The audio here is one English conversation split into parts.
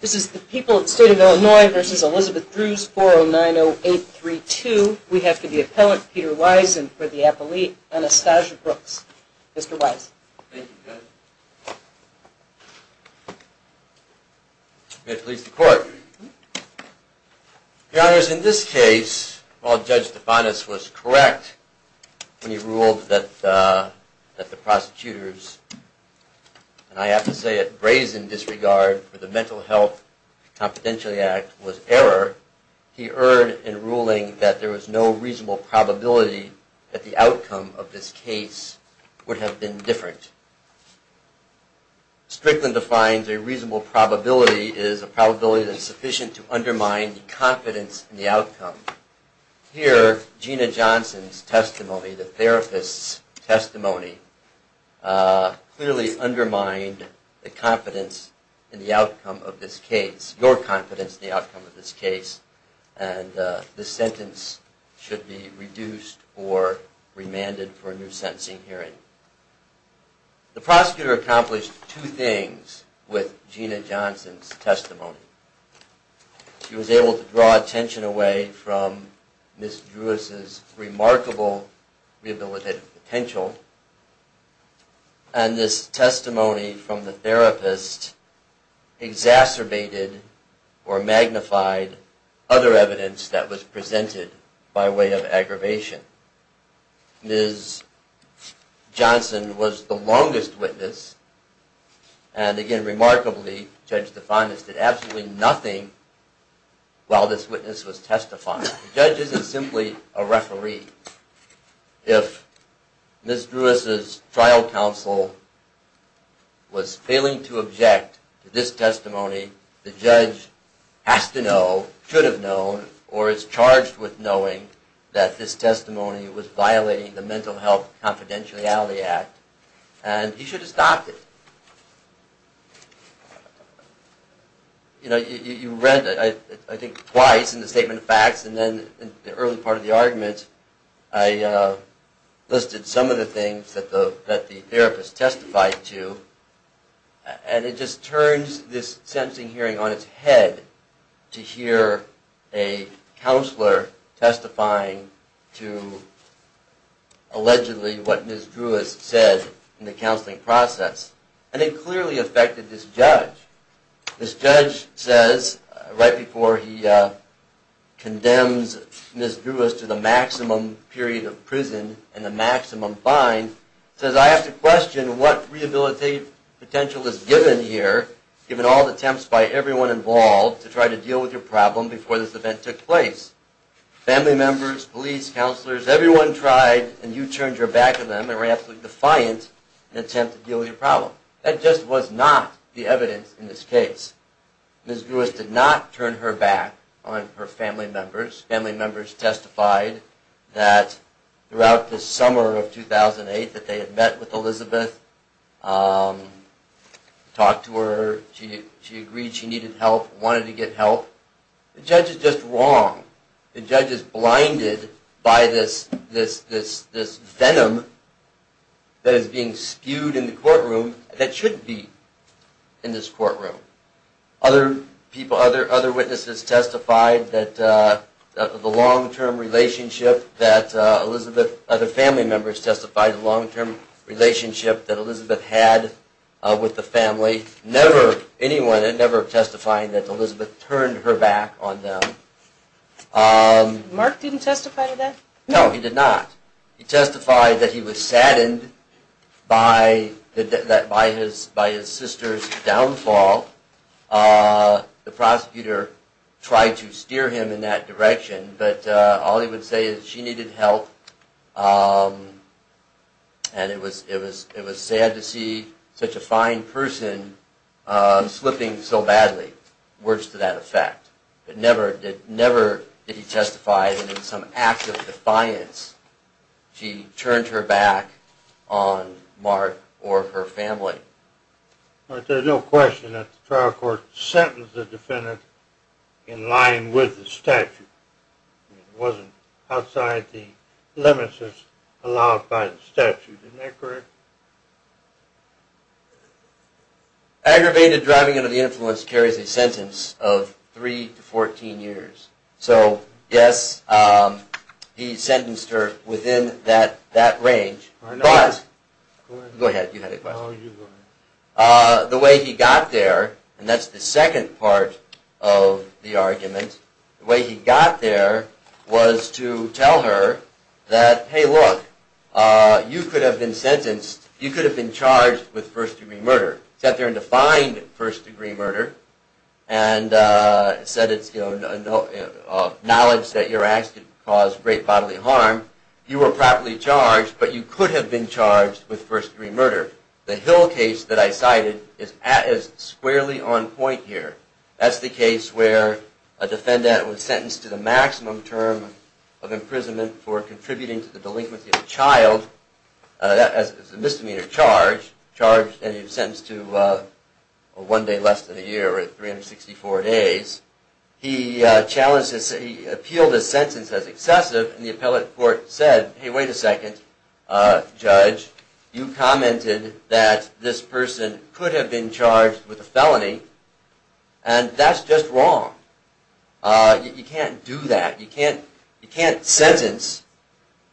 This is the People of the State of Illinois v. Elizabeth Drewes, 4090832. We have for the appellant, Peter Weisen for the appellate, Anastasia Brooks. Mr. Weisen. We have to release the court. Your Honors, in this case, while Judge Tifanis was correct when he ruled that the prosecutors, and I have to say it brazen disregard for the Mental Health Confidentiality Act was error, he erred in ruling that there was no reasonable probability that the outcome of this case would have been different. Strickland defines a reasonable probability as a probability that is sufficient to undermine the confidence in the outcome. Here, Gina Johnson's testimony, the therapist's testimony, clearly undermined the confidence in the outcome of this case, your confidence in the outcome of this case, and this sentence should be reduced or remanded for a new sentencing hearing. The prosecutor accomplished two things with Gina Johnson's testimony. She was able to draw attention away from Ms. Drewes' remarkable rehabilitative potential, and this testimony from the therapist exacerbated or magnified other evidence that was presented by way of aggravation. Ms. Johnson was the longest witness, and again, remarkably, Judge Tifanis did absolutely nothing while this witness was testifying. The judge isn't simply a referee. If Ms. Drewes' trial counsel was failing to object to this testimony, the judge has to know, should have known, or is charged with knowing that this testimony was violating the Mental Health Confidentiality Act, and he should have stopped it. You know, you read it, I think, twice in the statement of facts, and then in the early part of the argument, I listed some of the things that the therapist testified to, and it just turns this sentencing hearing on its head to hear a counselor testifying to allegedly what Ms. Drewes said in the counseling process. And it clearly affected this judge. This judge says, right before he condemns Ms. Drewes to the maximum period of prison and the maximum fine, says, I have to question what rehabilitative potential is given here, given all the attempts by everyone involved to try to deal with your problem before this event took place. Family members, police, counselors, everyone tried, and you turned your back on them and were absolutely defiant in an attempt to deal with your problem. That just was not the evidence in this case. Ms. Drewes did not turn her back on her family members. Family members testified that throughout the summer of 2008 that they had met with Elizabeth, talked to her, she agreed she needed help, wanted to get help. The judge is just wrong. The judge is blinded by this venom that is being spewed in the courtroom that should be in this courtroom. Other people, other witnesses testified that the long-term relationship that Elizabeth, other family members testified, the long-term relationship that Elizabeth had with the family, never, anyone had ever testified that Elizabeth turned her back on them. Mark didn't testify to that? Never did he testify that in some act of defiance she turned her back on Mark or her family. But there's no question that the trial court sentenced the defendant in line with the statute. It wasn't outside the limits as allowed by the statute. Isn't that correct? Aggravated driving under the influence carries a sentence of 3 to 14 years. So yes, he sentenced her within that range. Go ahead, you had a question. The way he got there, and that's the second part of the argument, the way he got there was to tell her that, hey look, you could have been sentenced, you could have been charged with first degree murder. He sat there and defined first degree murder and said it's knowledge that your acts could cause great bodily harm. You were properly charged, but you could have been charged with first degree murder. The Hill case that I cited is squarely on point here. That's the case where a defendant was sentenced to the maximum term of imprisonment for contributing to the delinquency of a child. It was a misdemeanor charge and he was sentenced to one day less than a year or 364 days. He appealed his sentence as excessive and the appellate court said, hey wait a second, judge, you commented that this person could have been charged with a felony and that's just wrong. You can't do that. You can't sentence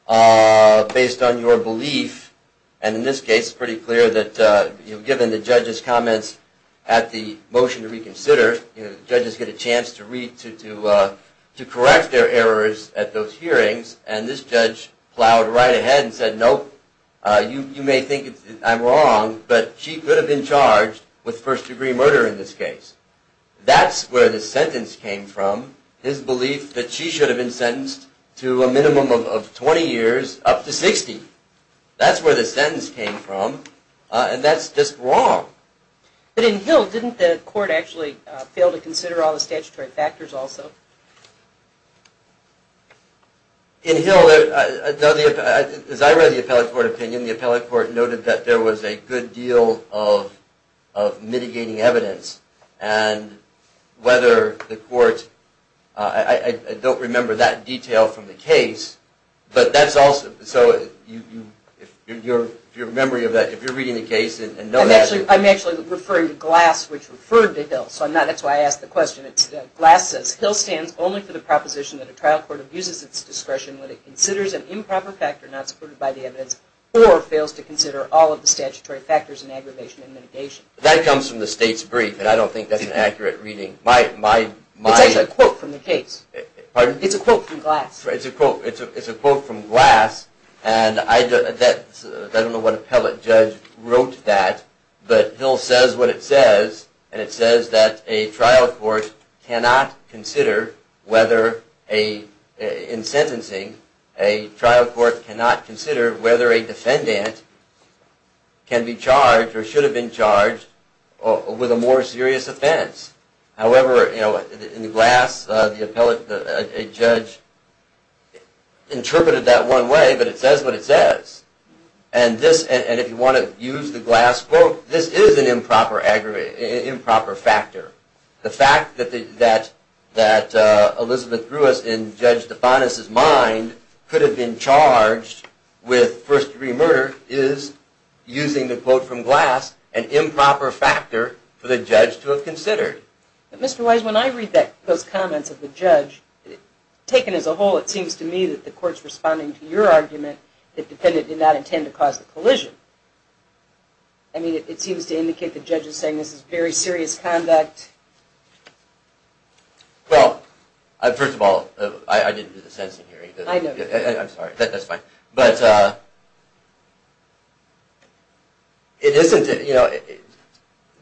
based on your belief and in this case it's pretty clear that given the judge's comments at the motion to reconsider, judges get a chance to correct their errors at those hearings and this judge plowed right ahead and said, nope, you may think I'm wrong, but she could have been charged with first degree murder in this case. That's where the sentence came from, his belief that she should have been sentenced to a minimum of 20 years up to 60. That's where the sentence came from and that's just wrong. But in Hill, didn't the court actually fail to consider all the statutory factors also? In Hill, as I read the appellate court opinion, the appellate court noted that there was a good deal of mitigating evidence and whether the court, I don't remember that detail from the case, but that's also, so if you're reading the case and know that. I'm actually referring to Glass which referred to Hill, so that's why I asked the question. Glass says, Hill stands only for the proposition that a trial court abuses its discretion when it considers an improper factor not supported by the evidence or fails to consider all of the statutory factors in aggravation and mitigation. That comes from the state's brief and I don't think that's an accurate reading. It's actually a quote from the case. Pardon? It's a quote from Glass. It's a quote from Glass and I don't know what appellate judge wrote that, but Hill says what it says and it says that a trial court cannot consider whether, in sentencing, a trial court cannot consider whether a defendant can be charged or should have been charged with a more serious offense. However, in Glass, a judge interpreted that one way, but it says what it says. And if you want to use the Glass quote, this is an improper factor. The fact that Elizabeth Drewis in Judge DeFanis' mind could have been charged with first degree murder is, using the quote from Glass, an improper factor for the judge to have considered. But Mr. Wise, when I read those comments of the judge, taken as a whole, it seems to me that the court's responding to your argument that the defendant did not intend to cause the collision. I mean, it seems to indicate the judge is saying this is very serious conduct. Well, first of all, I didn't do the sentencing hearing. I know. I'm sorry. That's fine. But it isn't.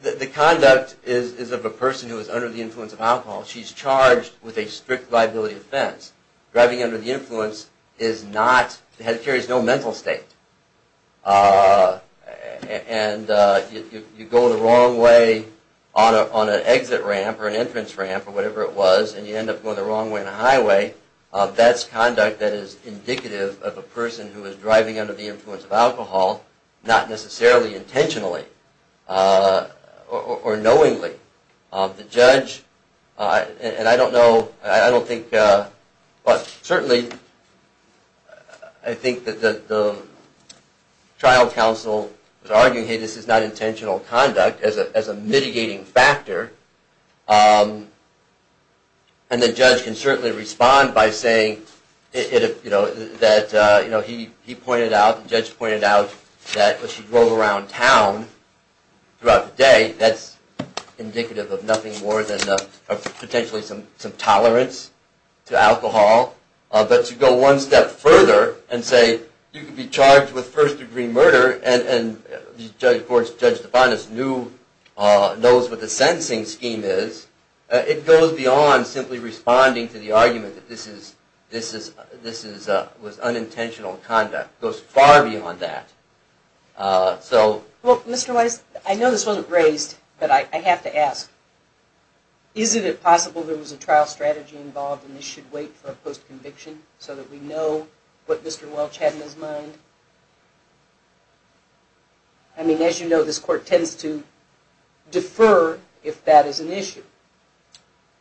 The conduct is of a person who is under the influence of alcohol. She's charged with a strict liability offense. Driving under the influence carries no mental state. And if you go the wrong way on an exit ramp or an entrance ramp or whatever it was, and you end up going the wrong way on a highway, that's conduct that is indicative of a person who is driving under the influence of alcohol, not necessarily intentionally or knowingly. The judge, and I don't know, I don't think, but certainly I think that the trial counsel was arguing, hey, this is not intentional conduct as a mitigating factor. And the judge can certainly respond by saying that he pointed out, the judge pointed out that she drove around town throughout the day. That's indicative of nothing more than potentially some tolerance to alcohol. But to go one step further and say you could be charged with first degree murder, and of course, Judge DeFantis knows what the sentencing scheme is, it goes beyond simply responding to the argument that this was unintentional conduct. It goes far beyond that. Well, Mr. Weiss, I know this wasn't raised, but I have to ask. Isn't it possible there was a trial strategy involved and this should wait for a post-conviction so that we know what Mr. Welch had in his mind? I mean, as you know, this court tends to defer if that is an issue.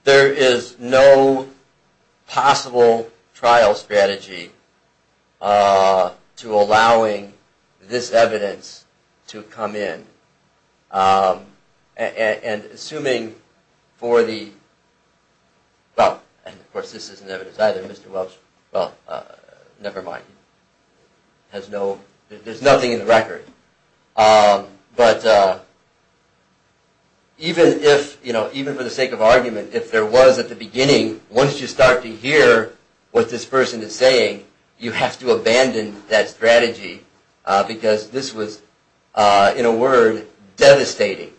There is no possible trial strategy to allowing this evidence to come in. And assuming for the, well, and of course, this isn't evidence either. Mr. Welch, well, never mind. There's nothing in the record. But even if, you know, even for the sake of argument, if there was at the beginning, once you start to hear what this person is saying, you have to abandon that strategy. Because this was, in a word, devastating.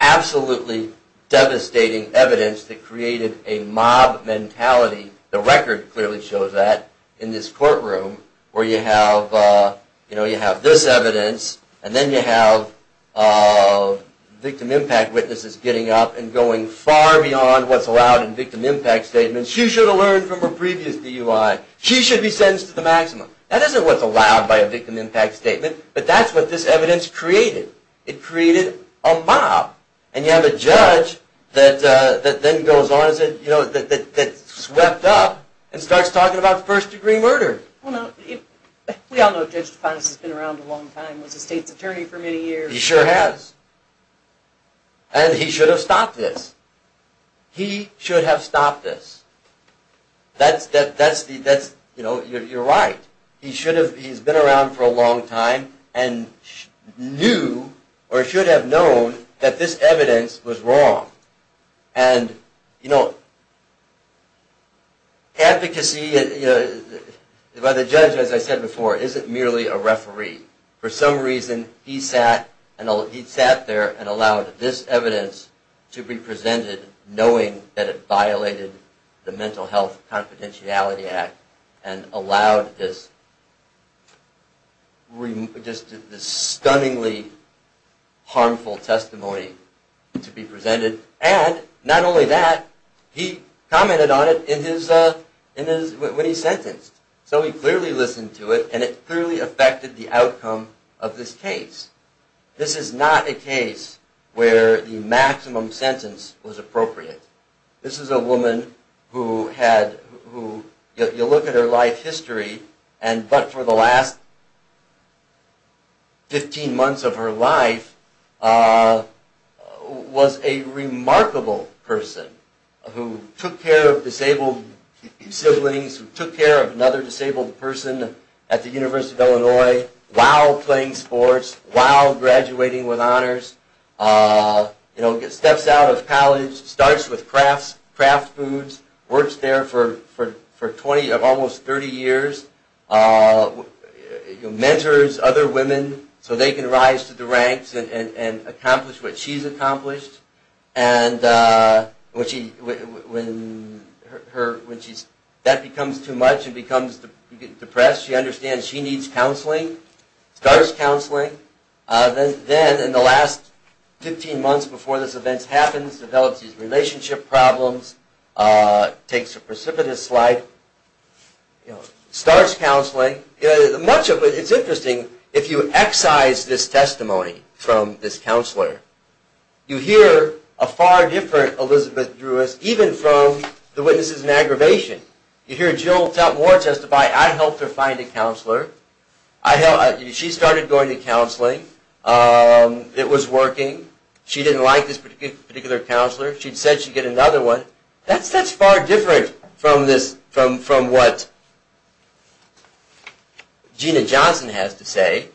Absolutely devastating evidence that created a mob mentality. The record clearly shows that in this courtroom where you have, you know, you have this evidence and then you have victim impact witnesses getting up and going far beyond what's allowed in victim impact statements. She should have learned from her previous DUI. She should be sentenced to the maximum. That isn't what's allowed by a victim impact statement, but that's what this evidence created. It created a mob. And you have a judge that then goes on, you know, that swept up and starts talking about first degree murder. We all know Judge DeFantis has been around a long time. He was a state's attorney for many years. He sure has. And he should have stopped this. He should have stopped this. That's, you know, you're right. He should have, he's been around for a long time and knew, or should have known, that this evidence was wrong. And, you know, advocacy by the judge, as I said before, isn't merely a referee. For some reason, he sat there and allowed this evidence to be presented knowing that it violated the minimum. Mental Health Confidentiality Act and allowed this stunningly harmful testimony to be presented. And not only that, he commented on it when he sentenced. So he clearly listened to it, and it clearly affected the outcome of this case. This is not a case where the maximum sentence was appropriate. This is a woman who had, you look at her life history, and but for the last 15 months of her life, was a remarkable person who took care of disabled siblings, who took care of another disabled person at the University of Illinois, while playing sports, while graduating with honors, you know, steps out of college, starts with craft foods, works there for almost 30 years, mentors other women so they can rise to the ranks and accomplish what she's accomplished. And when that becomes too much and becomes, you get depressed, she understands she needs counseling. Starts counseling, then in the last 15 months before this event happens, develops these relationship problems, takes a precipitous slide, starts counseling. Much of it, it's interesting, if you excise this testimony from this counselor, you hear a far different Elizabeth Drewis, even from the witnesses in aggravation. You hear Jill Tepmore testify, I helped her find a counselor, she started going to counseling, it was working, she didn't like this particular counselor, she said she'd get another one. That's far different from what Gina Johnson has to say.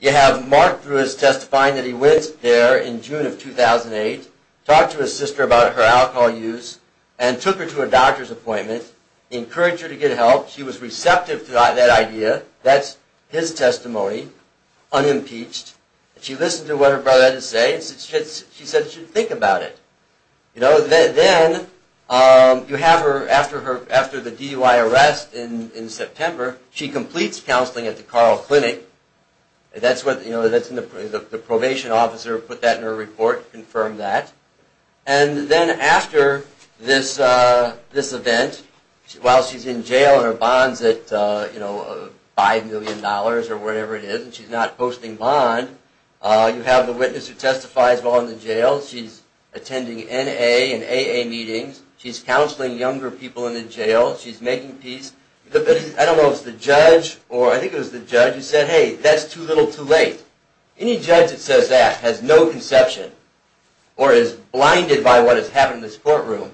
You have Mark Drewis testifying that he went there in June of 2008, talked to his sister about her alcohol use, and took her to a doctor's appointment, encouraged her to get help, she was receptive to that idea, that's his testimony, unimpeached, and she listened to what her brother had to say, she said she should think about it. Then, after the DUI arrest in September, she completes counseling at the Carl Clinic, the probation officer put that in her report to confirm that, and then after this event, while she's in jail and her bond's at $5 million or whatever it is, and she's not posting bond, you have the witness who testifies while in the jail, she's attending NA and AA meetings, she's counseling younger people in the jail, she's making peace, I don't know if it's the judge, or I think it was the judge who said, hey, that's too little, too late. Any judge that says that has no conception, or is blinded by what has happened in this courtroom,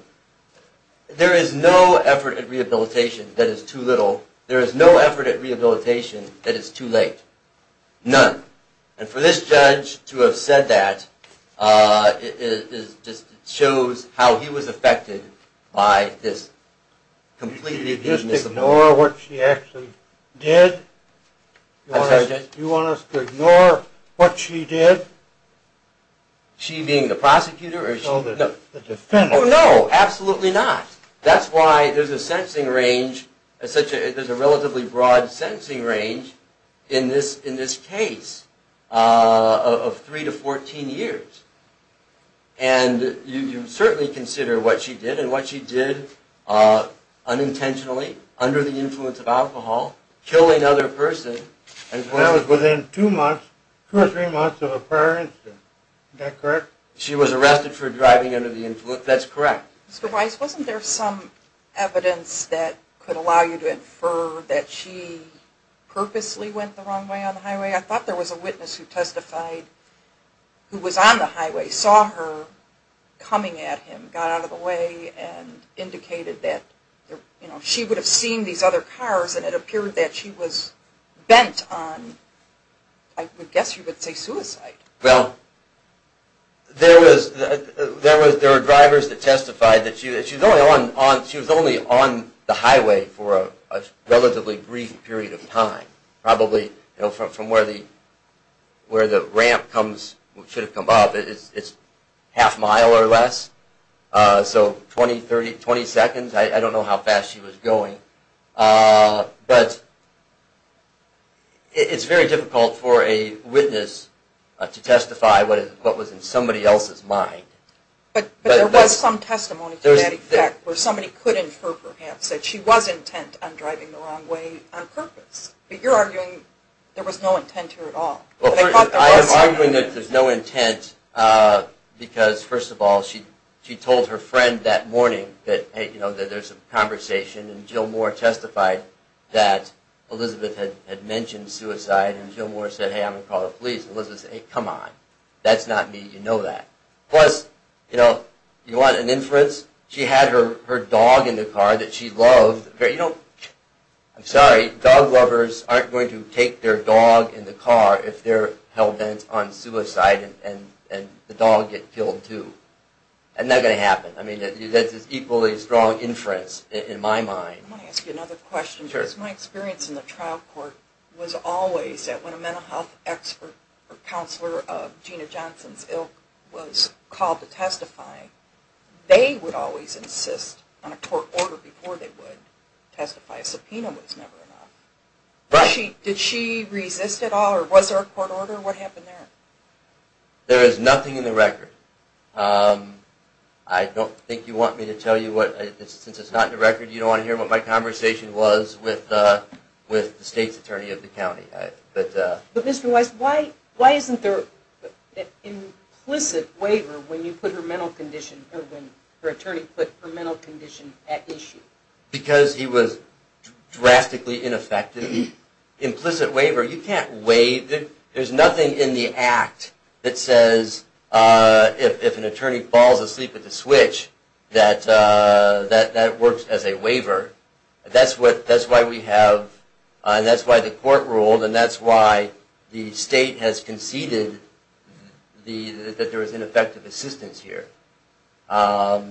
there is no effort at rehabilitation that is too little, there is no effort at rehabilitation that is too late. None. And for this judge to have said that, shows how he was affected by this. Do you want us to ignore what she did? She being the prosecutor? No, absolutely not. That's why there's a sensing range, there's a relatively broad sensing range in this case of 3 to 14 years. And you can certainly consider what she did, and what she did unintentionally, under the influence of alcohol, killing another person. And that was within 2 or 3 months of a prior incident, is that correct? She was arrested for driving under the influence, that's correct. Mr. Weiss, wasn't there some evidence that could allow you to infer that she purposely went the wrong way on the highway? I thought there was a witness who testified who was on the highway, saw her coming at him, got out of the way, and indicated that she would have seen these other cars, and it appeared that she was bent on, I would guess you would say suicide. Well, there were drivers that testified that she was only on the highway for a relatively brief period of time. Probably from where the ramp should have come up, it's half a mile or less. So 20 seconds, I don't know how fast she was going. But it's very difficult for a witness to testify what was in somebody else's mind. But there was some testimony to that effect, where somebody could infer perhaps that she was intent on driving the wrong way on purpose. But you're arguing there was no intent here at all. I am arguing that there's no intent, because first of all, she told her friend that morning that there's a conversation, and Jill Moore testified that Elizabeth had mentioned suicide, and Jill Moore said, hey, I'm going to call the police, and Elizabeth said, hey, come on, that's not me, you know that. Plus, you know, you want an inference? She had her dog in the car that she loved. You know, I'm sorry, dog lovers aren't going to take their dog in the car if they're held on suicide and the dog gets killed too. That's not going to happen. I mean, that's an equally strong inference in my mind. I want to ask you another question, because my experience in the trial court was always that when a mental health expert or counselor of Gina Johnson's ilk was called to testify, they would always insist on a court order before they would testify. A subpoena was never enough. Did she resist at all, or was there a court order? What happened there? There is nothing in the record. I don't think you want me to tell you what, since it's not in the record, you don't want to hear what my conversation was with the state's attorney of the county. But Mr. Weiss, why isn't there an implicit waiver when you put her mental condition, or when her attorney put her mental condition at issue? Because he was drastically ineffective. Implicit waiver, you can't waive it. There's nothing in the act that says, if an attorney falls asleep at the switch, that that works as a waiver. That's why we have, and that's why the court ruled, and that's why the state has conceded that there was ineffective assistance here. No,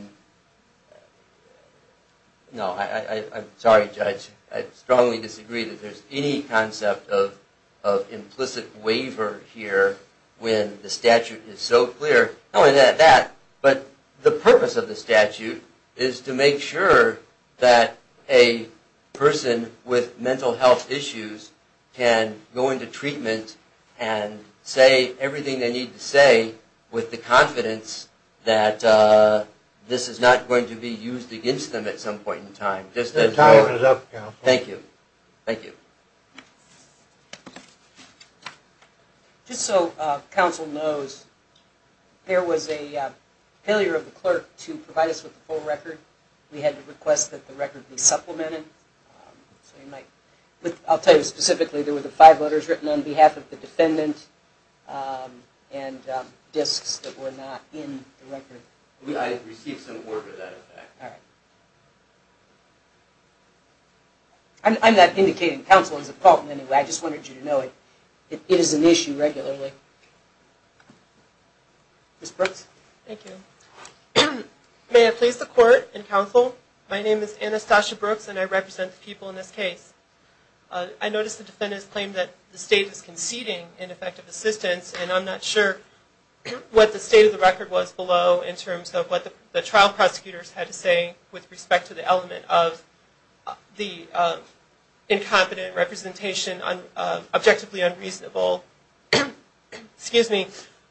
I'm sorry, Judge. I strongly disagree that there's any concept of implicit waiver here when the statute is so clear. Not only that, but the purpose of the statute is to make sure that a person with mental health issues can go into treatment and say everything they need to say with the confidence that this is not going to be used against them at some point in time. Just as a waiver. Just so counsel knows, there was a failure of the clerk to provide us with the full record. We had to request that the record be supplemented. I'll tell you specifically, there were the five letters written on behalf of the defendant and disks that were not in the record. I'm not indicating counsel is at fault in any way. I just wanted you to know it is an issue regularly. Ms. Brooks? Thank you. May I please the court and counsel? My name is Anastasia Brooks and I represent the people in this case. I notice the defendant's claim that the state is conceding ineffective assistance and I'm not sure what the state of the record was below in terms of what the trial prosecutors had to say with respect to the element of the incompetent representation, objectively unreasonable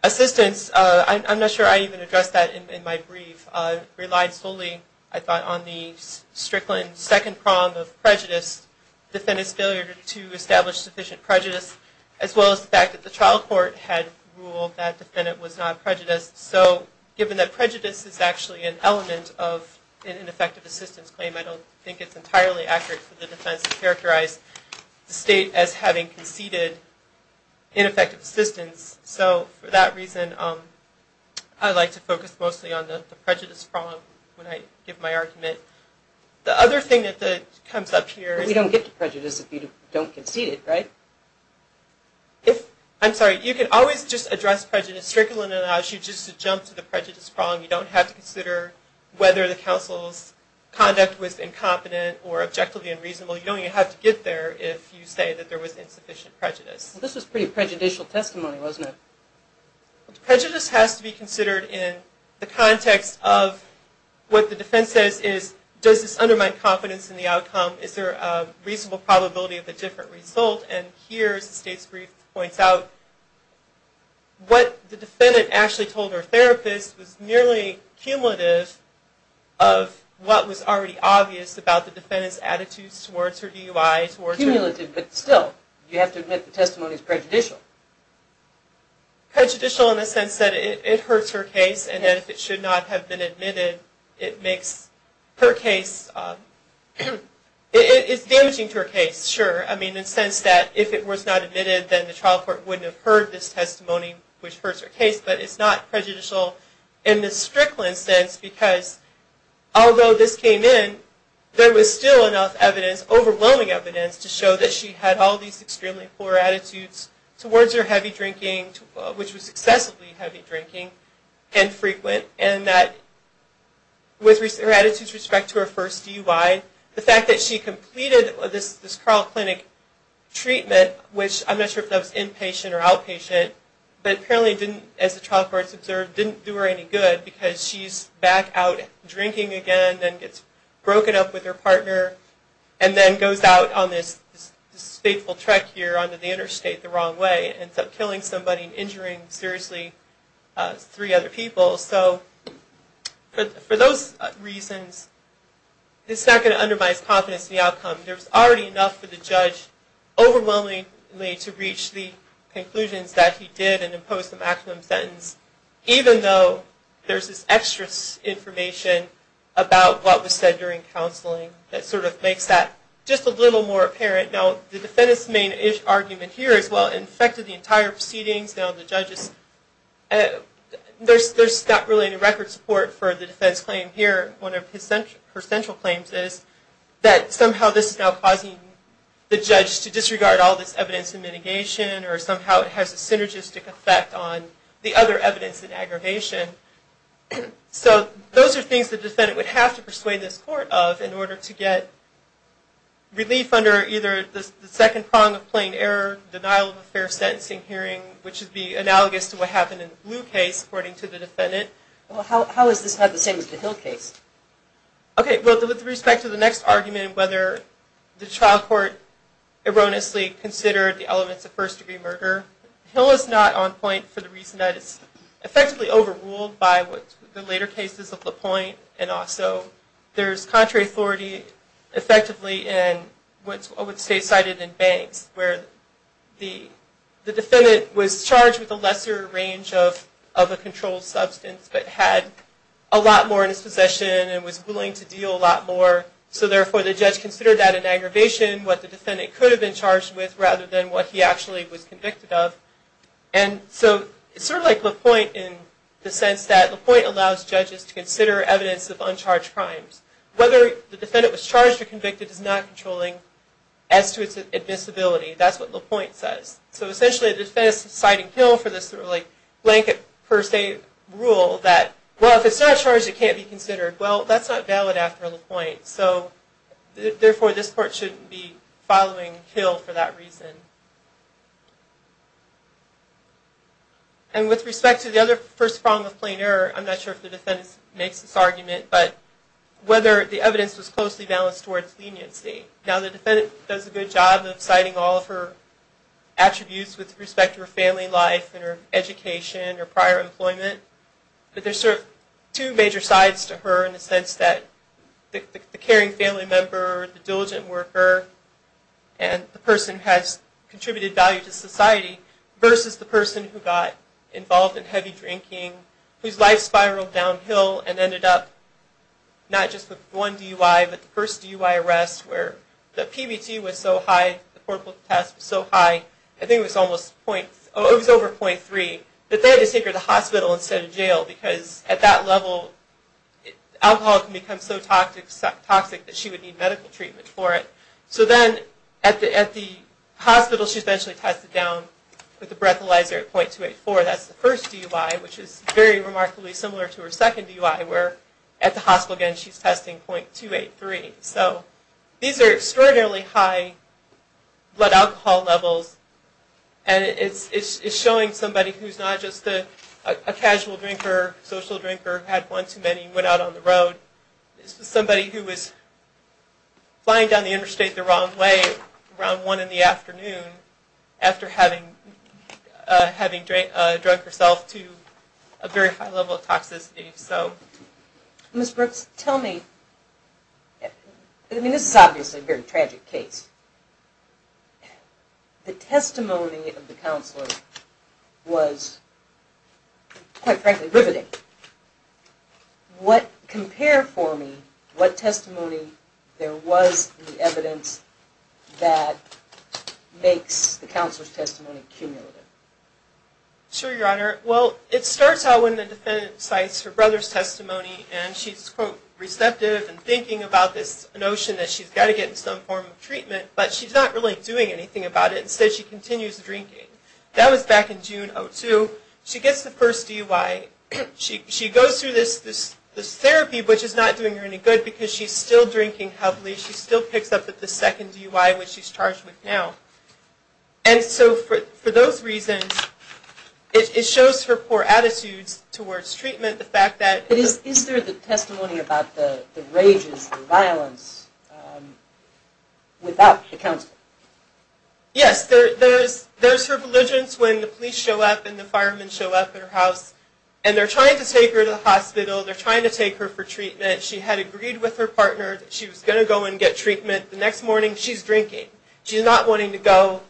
assistance. I'm not sure I even addressed that in my brief. I relied solely, I thought, on the Strickland second prong of prejudice. Defendant's failure to establish sufficient prejudice as well as the fact that the trial court had ruled that the prejudice is actually an element of an ineffective assistance claim. I don't think it's entirely accurate for the defense to characterize the state as having conceded ineffective assistance. So for that reason, I like to focus mostly on the prejudice prong when I give my argument. The other thing that comes up here... You don't get to prejudice if you don't concede it, right? I'm sorry, you can always just address prejudice. Strickland allows you just to jump to the prejudice prong. You don't have to consider whether the counsel's conduct was incompetent or objectively unreasonable. You don't even have to get there if you say that there was insufficient prejudice. Well, this was pretty prejudicial testimony, wasn't it? Prejudice has to be considered in the context of what the defense says is, does this undermine confidence in the outcome? Is there a reasonable probability of a different result? And here, as the state's brief points out, what the defendant actually told her therapist was nearly cumulative of what was already obvious about the defendant's attitudes towards her DUI. Cumulative, but still, you have to admit the testimony is prejudicial. Prejudicial in the sense that it hurts her case, and if it should not have been admitted, it makes her case... It's damaging to her case, sure, in the sense that if it was not admitted, then the trial court wouldn't have heard this testimony, which hurts her case, but it's not prejudicial in the strickland sense, because although this came in, there was still enough evidence, overwhelming evidence, to show that she had all these extremely poor attitudes towards her heavy drinking, which was excessively heavy drinking and frequent, and that with her attitudes with respect to her first DUI, the fact that she completed this Carl Clinic treatment, which I'm not sure if that was inpatient or outpatient, but apparently didn't, as the trial court observed, didn't do her any good, because she's back out drinking again, then gets broken up with her partner, and then goes out on this fateful trek here onto the interstate the wrong way, and ends up killing somebody, and injuring, seriously, three other people. So, for those reasons, it's not going to undermine his confidence in the outcome. There's already enough for the judge, overwhelmingly, to reach the conclusions that he did, and impose the maximum sentence, even though there's this extra information about what was said during counseling that sort of makes that just a little more apparent. Now, the defendant's main argument here is, well, it affected the entire proceedings. Now, the judge is... There's not really any record support for the defendant's claim here. One of her central claims is that somehow this is now causing the judge to disregard all this evidence in mitigation, or somehow it has a synergistic effect on the other evidence in aggravation. So, those are things the defendant would have to persuade this court of in order to get relief under either the second prong of plain error, denial of a fair sentencing hearing, which would be analogous to what happened in the Blue case, according to the defendant. Well, how is this not the same as the Hill case? Okay, well, with respect to the next argument, whether the trial court erroneously considered the elements of first-degree murder, Hill is not on point for the reason that it's effectively overruled by the later cases of LaPointe, and also there's contrary authority, effectively, in what's state-cited in Banks, where the defendant was charged with a lesser range of a controlled substance, but had a lot more in his possession and was willing to deal a lot more, so therefore the judge considered that an aggravation, what the defendant could have been charged with, rather than what he actually was convicted of. And so, it's sort of like LaPointe in the sense that LaPointe allows judges to consider evidence of uncharged crimes. Whether the defendant was charged or convicted is not controlling as to its admissibility. That's what LaPointe says. So essentially, the defense is citing Hill for this sort of like blanket per se rule that, well, if it's not charged, it can't be considered. Well, that's not valid after LaPointe, so therefore this court shouldn't be following Hill for that reason. And with respect to the other first prong of plain error, I'm not sure if the defendant makes this argument, but whether the evidence was closely balanced towards leniency. Now, the defendant does a good job of citing all of her attributes with respect to her family life and her education or prior employment, but there's sort of two major sides to her in the sense that the caring family member, the diligent worker, and the person who has contributed value to society, versus the person who got involved in heavy drinking, whose life spiraled downhill and ended up not just with one DUI, but the first DUI arrest where the PBT was so high, the portable test was so high, I think it was over .3, that they had to take her to the hospital instead of jail because at that level, alcohol can become so toxic that she would need medical treatment for it. So then, at the hospital, she's eventually tested down with the breathalyzer at .284, that's the first DUI, which is very remarkably similar to her second DUI, where at the hospital again, she's testing .283. So, these are extraordinarily high blood alcohol levels, and it's showing somebody who's not just a casual drinker, social drinker, had one too many, went out on the road, somebody who was flying down the interstate the wrong way around 1 in the afternoon after having drunk herself to a very high level of toxicity. Ms. Brooks, tell me, I mean this is obviously a very tragic case, the testimony of the counselor was quite frankly riveting. What, compare for me, what testimony there was in the evidence that makes the counselor's testimony cumulative? Sure, Your Honor. Well, it starts out when the defendant cites her brother's testimony, and she's, quote, receptive and thinking about this notion that she's got to get some form of treatment, but she's not really doing anything about it. Instead, she continues drinking. That was back in June of 2002. She gets the first DUI. She goes through this therapy, which is not doing her any good because she's still drinking heavily. She still picks up at the second DUI, which she's charged with now. And so for those reasons, it shows her poor attitudes towards treatment, the fact that... Is there the testimony about the rages, the violence, without the counselor? Yes, there's her belligerence when the police show up and the firemen show up at her house, and they're trying to take her to the hospital, they're trying to take her for treatment. She had agreed with her partner that she was going to go and get treatment. The next morning, she's drinking. She's not wanting to go.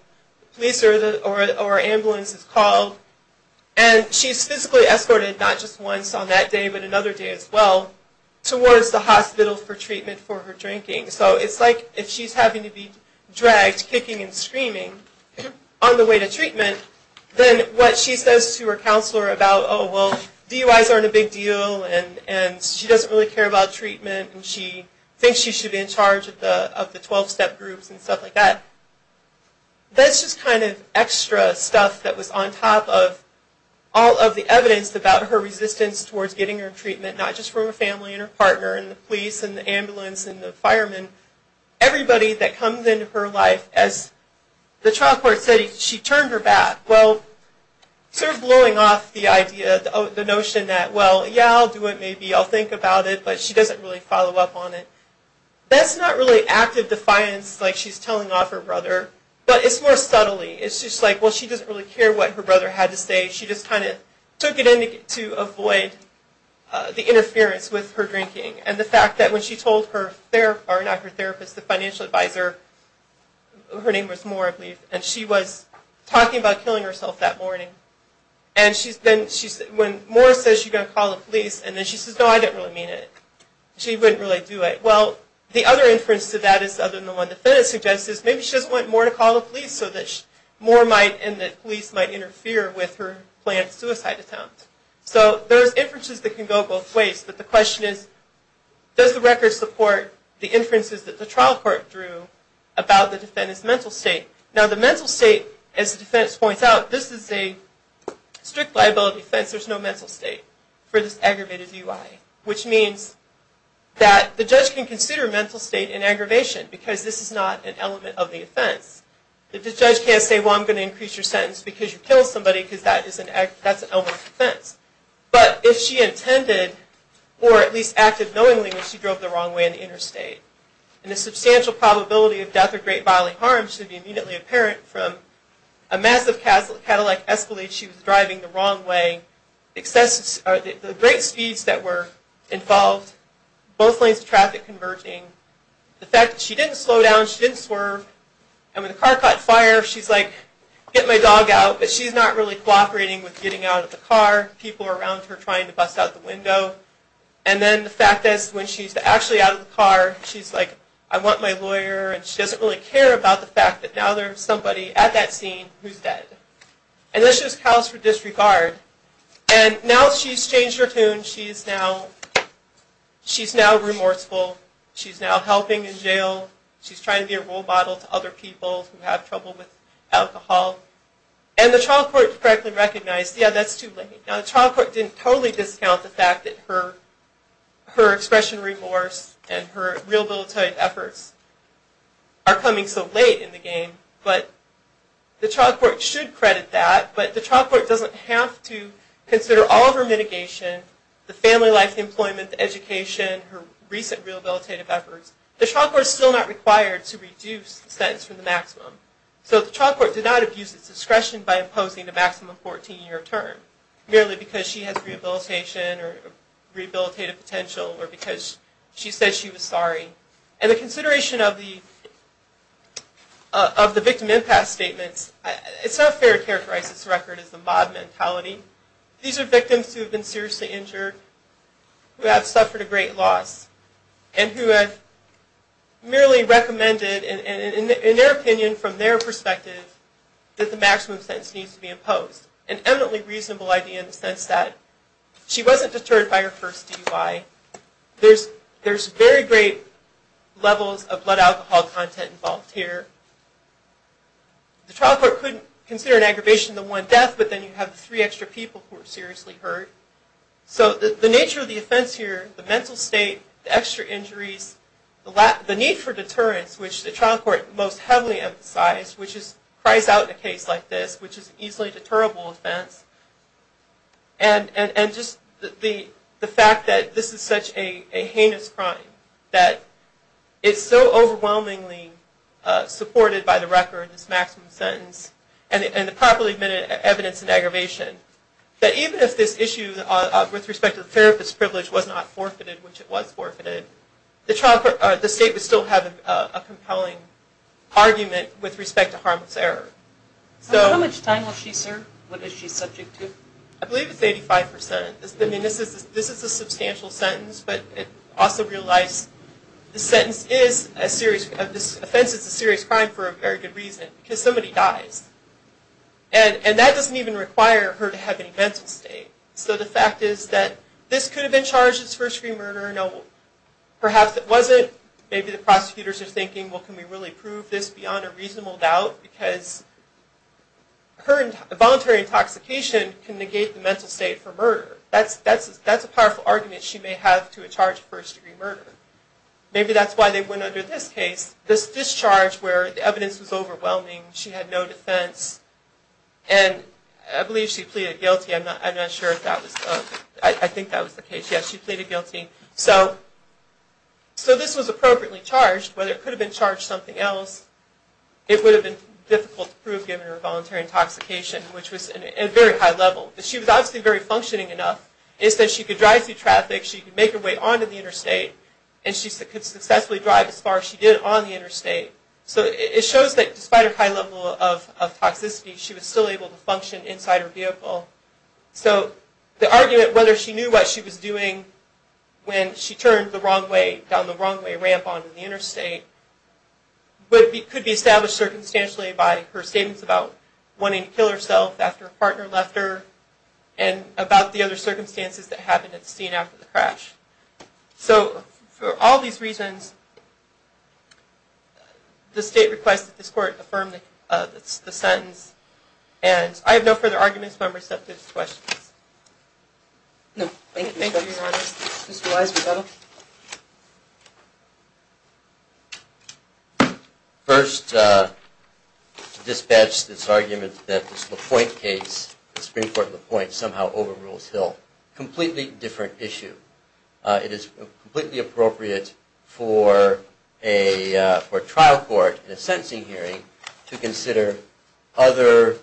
The police or ambulance is called. And she's physically escorted, not just once on that day, but another day as well, towards the hospital for treatment for her drinking. So it's like if she's having to be dragged kicking and screaming on the way to treatment, then what she says to her counselor about, oh, well, DUIs aren't a big deal, and she doesn't really care about treatment, and she thinks she should be in charge of the 12-step groups and stuff like that. That's just kind of extra stuff that was on top of all of the evidence about her resistance towards getting her treatment, not just from her family and her partner and the police and the ambulance and the firemen. Everybody that comes into her life, as the trial court said, she turned her back. Well, sort of blowing off the idea, the notion that, well, yeah, I'll do it, maybe. I'll think about it, but she doesn't really follow up on it. That's not really active defiance like she's telling off her brother, but it's more subtly. It's just like, well, she doesn't really care what her brother had to say. She just kind of took it in to avoid the interference with her drinking. And the fact that when she told her therapist, or not her therapist, the financial advisor, her name was Moore, I believe, and she was talking about killing herself that morning. And when Moore says she's going to call the police, and then she says, no, I didn't really mean it, she wouldn't really do it. Well, the other inference to that is, other than the one the defendant suggests, is maybe she doesn't want Moore to call the police so that Moore and the police might interfere with her planned suicide attempt. So there's inferences that can go both ways, but the question is, does the record support the inferences that the trial court drew about the defendant's mental state? Now, the mental state, as the defense points out, this is a strict liability offense. There's no mental state for this aggravated DUI, which means that the judge can consider mental state an aggravation because this is not an element of the offense. The judge can't say, well, I'm going to increase your sentence because you killed somebody because that's an element of the offense. But if she intended, or at least acted knowingly, when she drove the wrong way in the interstate, and the substantial probability of death or great bodily harm should be immediately apparent from a massive Cadillac Escalade she was driving the wrong way, the great speeds that were involved, both lanes of traffic converging, the fact that she didn't slow down, she didn't swerve, and when the car caught fire, she's like, get my dog out, but she's not really cooperating with getting out of the car. People are around her trying to bust out the window. And then the fact that when she's actually out of the car, she's like, I want my lawyer, and she doesn't really care about the fact that now there's somebody at that scene who's dead. And this just calls for disregard. And now she's changed her tune. She's now remorseful. She's now helping in jail. She's trying to be a role model to other people who have trouble with alcohol. And the trial court correctly recognized, yeah, that's too late. Now the trial court didn't totally discount the fact that her expression of remorse and her rehabilitative efforts are coming so late in the game, but the trial court should credit that. But the trial court doesn't have to consider all of her mitigation, the family life, the employment, the education, her recent rehabilitative efforts. The trial court is still not required to reduce the sentence from the maximum. So the trial court did not abuse its discretion by imposing the maximum 14-year term. Merely because she has rehabilitation or rehabilitative potential or because she said she was sorry. And the consideration of the victim impasse statements, it's not fair to characterize this record as a mob mentality. These are victims who have been seriously injured, who have suffered a great loss, and who have merely recommended, in their opinion, from their perspective, that the maximum sentence needs to be imposed. An eminently reasonable idea in the sense that she wasn't deterred by her first DUI. There's very great levels of blood alcohol content involved here. The trial court couldn't consider an aggravation of the one death, but then you have the three extra people who were seriously hurt. So the nature of the offense here, the mental state, the extra injuries, the need for deterrence, which the trial court most heavily emphasized, which cries out in a case like this, which is an easily deterrable offense. And just the fact that this is such a heinous crime, that it's so overwhelmingly supported by the record, this maximum sentence, and the properly admitted evidence in aggravation, that even if this issue with respect to the therapist's privilege was not forfeited, which it was forfeited, the state would still have a compelling argument with respect to harmless error. How much time will she serve? What is she subject to? I believe it's 85%. This is a substantial sentence, but also realize this sentence is a serious, this offense is a serious crime for a very good reason, because somebody dies. And that doesn't even require her to have any mental state. So the fact is that this could have been charged as first-degree murder. Perhaps it wasn't. Maybe the prosecutors are thinking, well, can we really prove this beyond a reasonable doubt? Because voluntary intoxication can negate the mental state for murder. That's a powerful argument she may have to a charge of first-degree murder. Maybe that's why they went under this case, this discharge where the evidence was overwhelming, she had no defense, and I believe she pleaded guilty. I'm not sure if that was, I think that was the case. Yes, she pleaded guilty. So this was appropriately charged. Whether it could have been charged something else, it would have been difficult to prove given her voluntary intoxication, which was at a very high level. But she was obviously very functioning enough, is that she could drive through traffic, she could make her way onto the interstate, and she could successfully drive as far as she did on the interstate. So it shows that despite her high level of toxicity, she was still able to function inside her vehicle. So the argument whether she knew what she was doing when she turned the wrong way, down the wrong way ramp onto the interstate, could be established circumstantially by her statements about wanting to kill herself after a partner left her, and about the other circumstances that happened at the scene after the crash. So for all these reasons, the state requests that this court affirm the sentence. And I have no further arguments if I'm receptive to questions. No, thank you. Thank you, Your Honor. Mr. Weisberg, that'll be it. First, to dispatch this argument that this LaPointe case, the Supreme Court LaPointe, somehow overrules Hill. Completely different issue. It is completely appropriate for a trial court in a sentencing hearing to consider other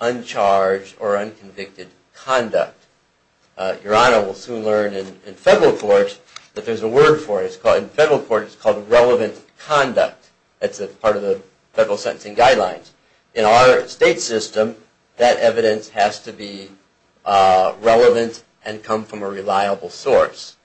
uncharged or unconvicted conduct. Your Honor, we'll soon learn in federal court that there's a word for it. In federal court, it's called relevant conduct. That's part of the federal sentencing guidelines. In our state system, that evidence has to be relevant and come from a reliable source.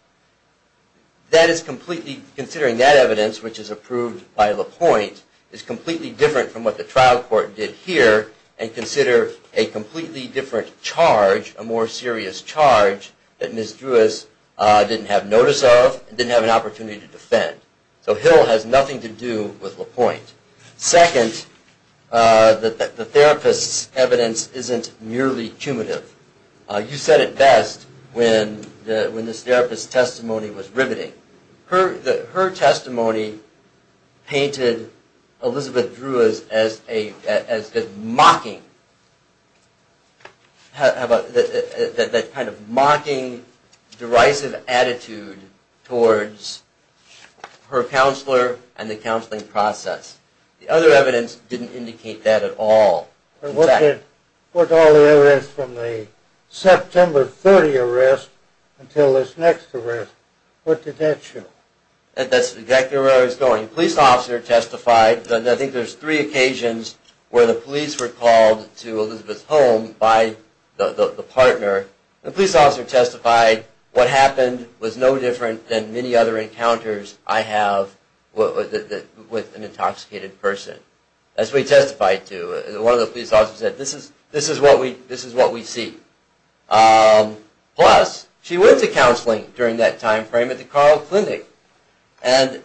Considering that evidence, which is approved by LaPointe, is completely different from what the trial court did here and consider a completely different charge, a more serious charge, that Ms. Drewis didn't have notice of and didn't have an opportunity to defend. So Hill has nothing to do with LaPointe. Second, the therapist's evidence isn't nearly cumulative. Her testimony painted Elizabeth Drewis as mocking, that kind of mocking, derisive attitude towards her counselor and the counseling process. The other evidence didn't indicate that at all. What's all the evidence from the September 30 arrest until this next arrest? What did that show? That's exactly where I was going. The police officer testified. I think there's three occasions where the police were called to Elizabeth's home by the partner. The police officer testified, what happened was no different than many other encounters I have with an intoxicated person. As we testified to, one of the police officers said, this is what we see. Plus, she went to counseling during that time frame at the Carl Clinic. And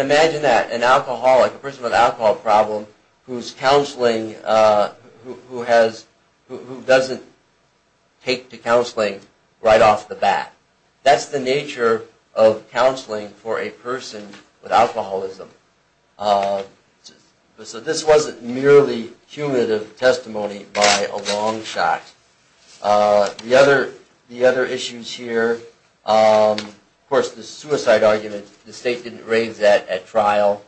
imagine that, an alcoholic, a person with an alcohol problem, who doesn't take to counseling right off the bat. That's the nature of counseling for a person with alcoholism. So this wasn't merely cumulative testimony by a long shot. The other issues here, of course, the suicide argument, the state didn't raise that at the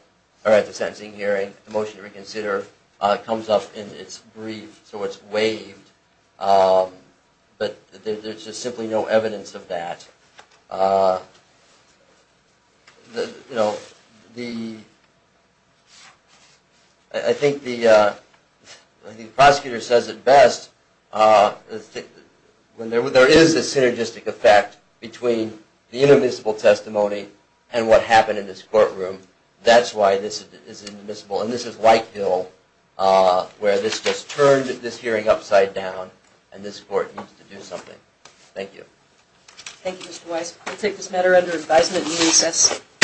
sentencing hearing. The motion to reconsider comes up in its brief, so it's waived. But there's just simply no evidence of that. I think the prosecutor says it best, when there is a synergistic effect between the indemnisible testimony and what happened in this courtroom, that's why this is indemnisible. And this is like Bill, where this just turned this hearing upside down, and this court needs to do something. Thank you. Thank you, Mr. Weiss. We'll take this matter under advisement and reassess.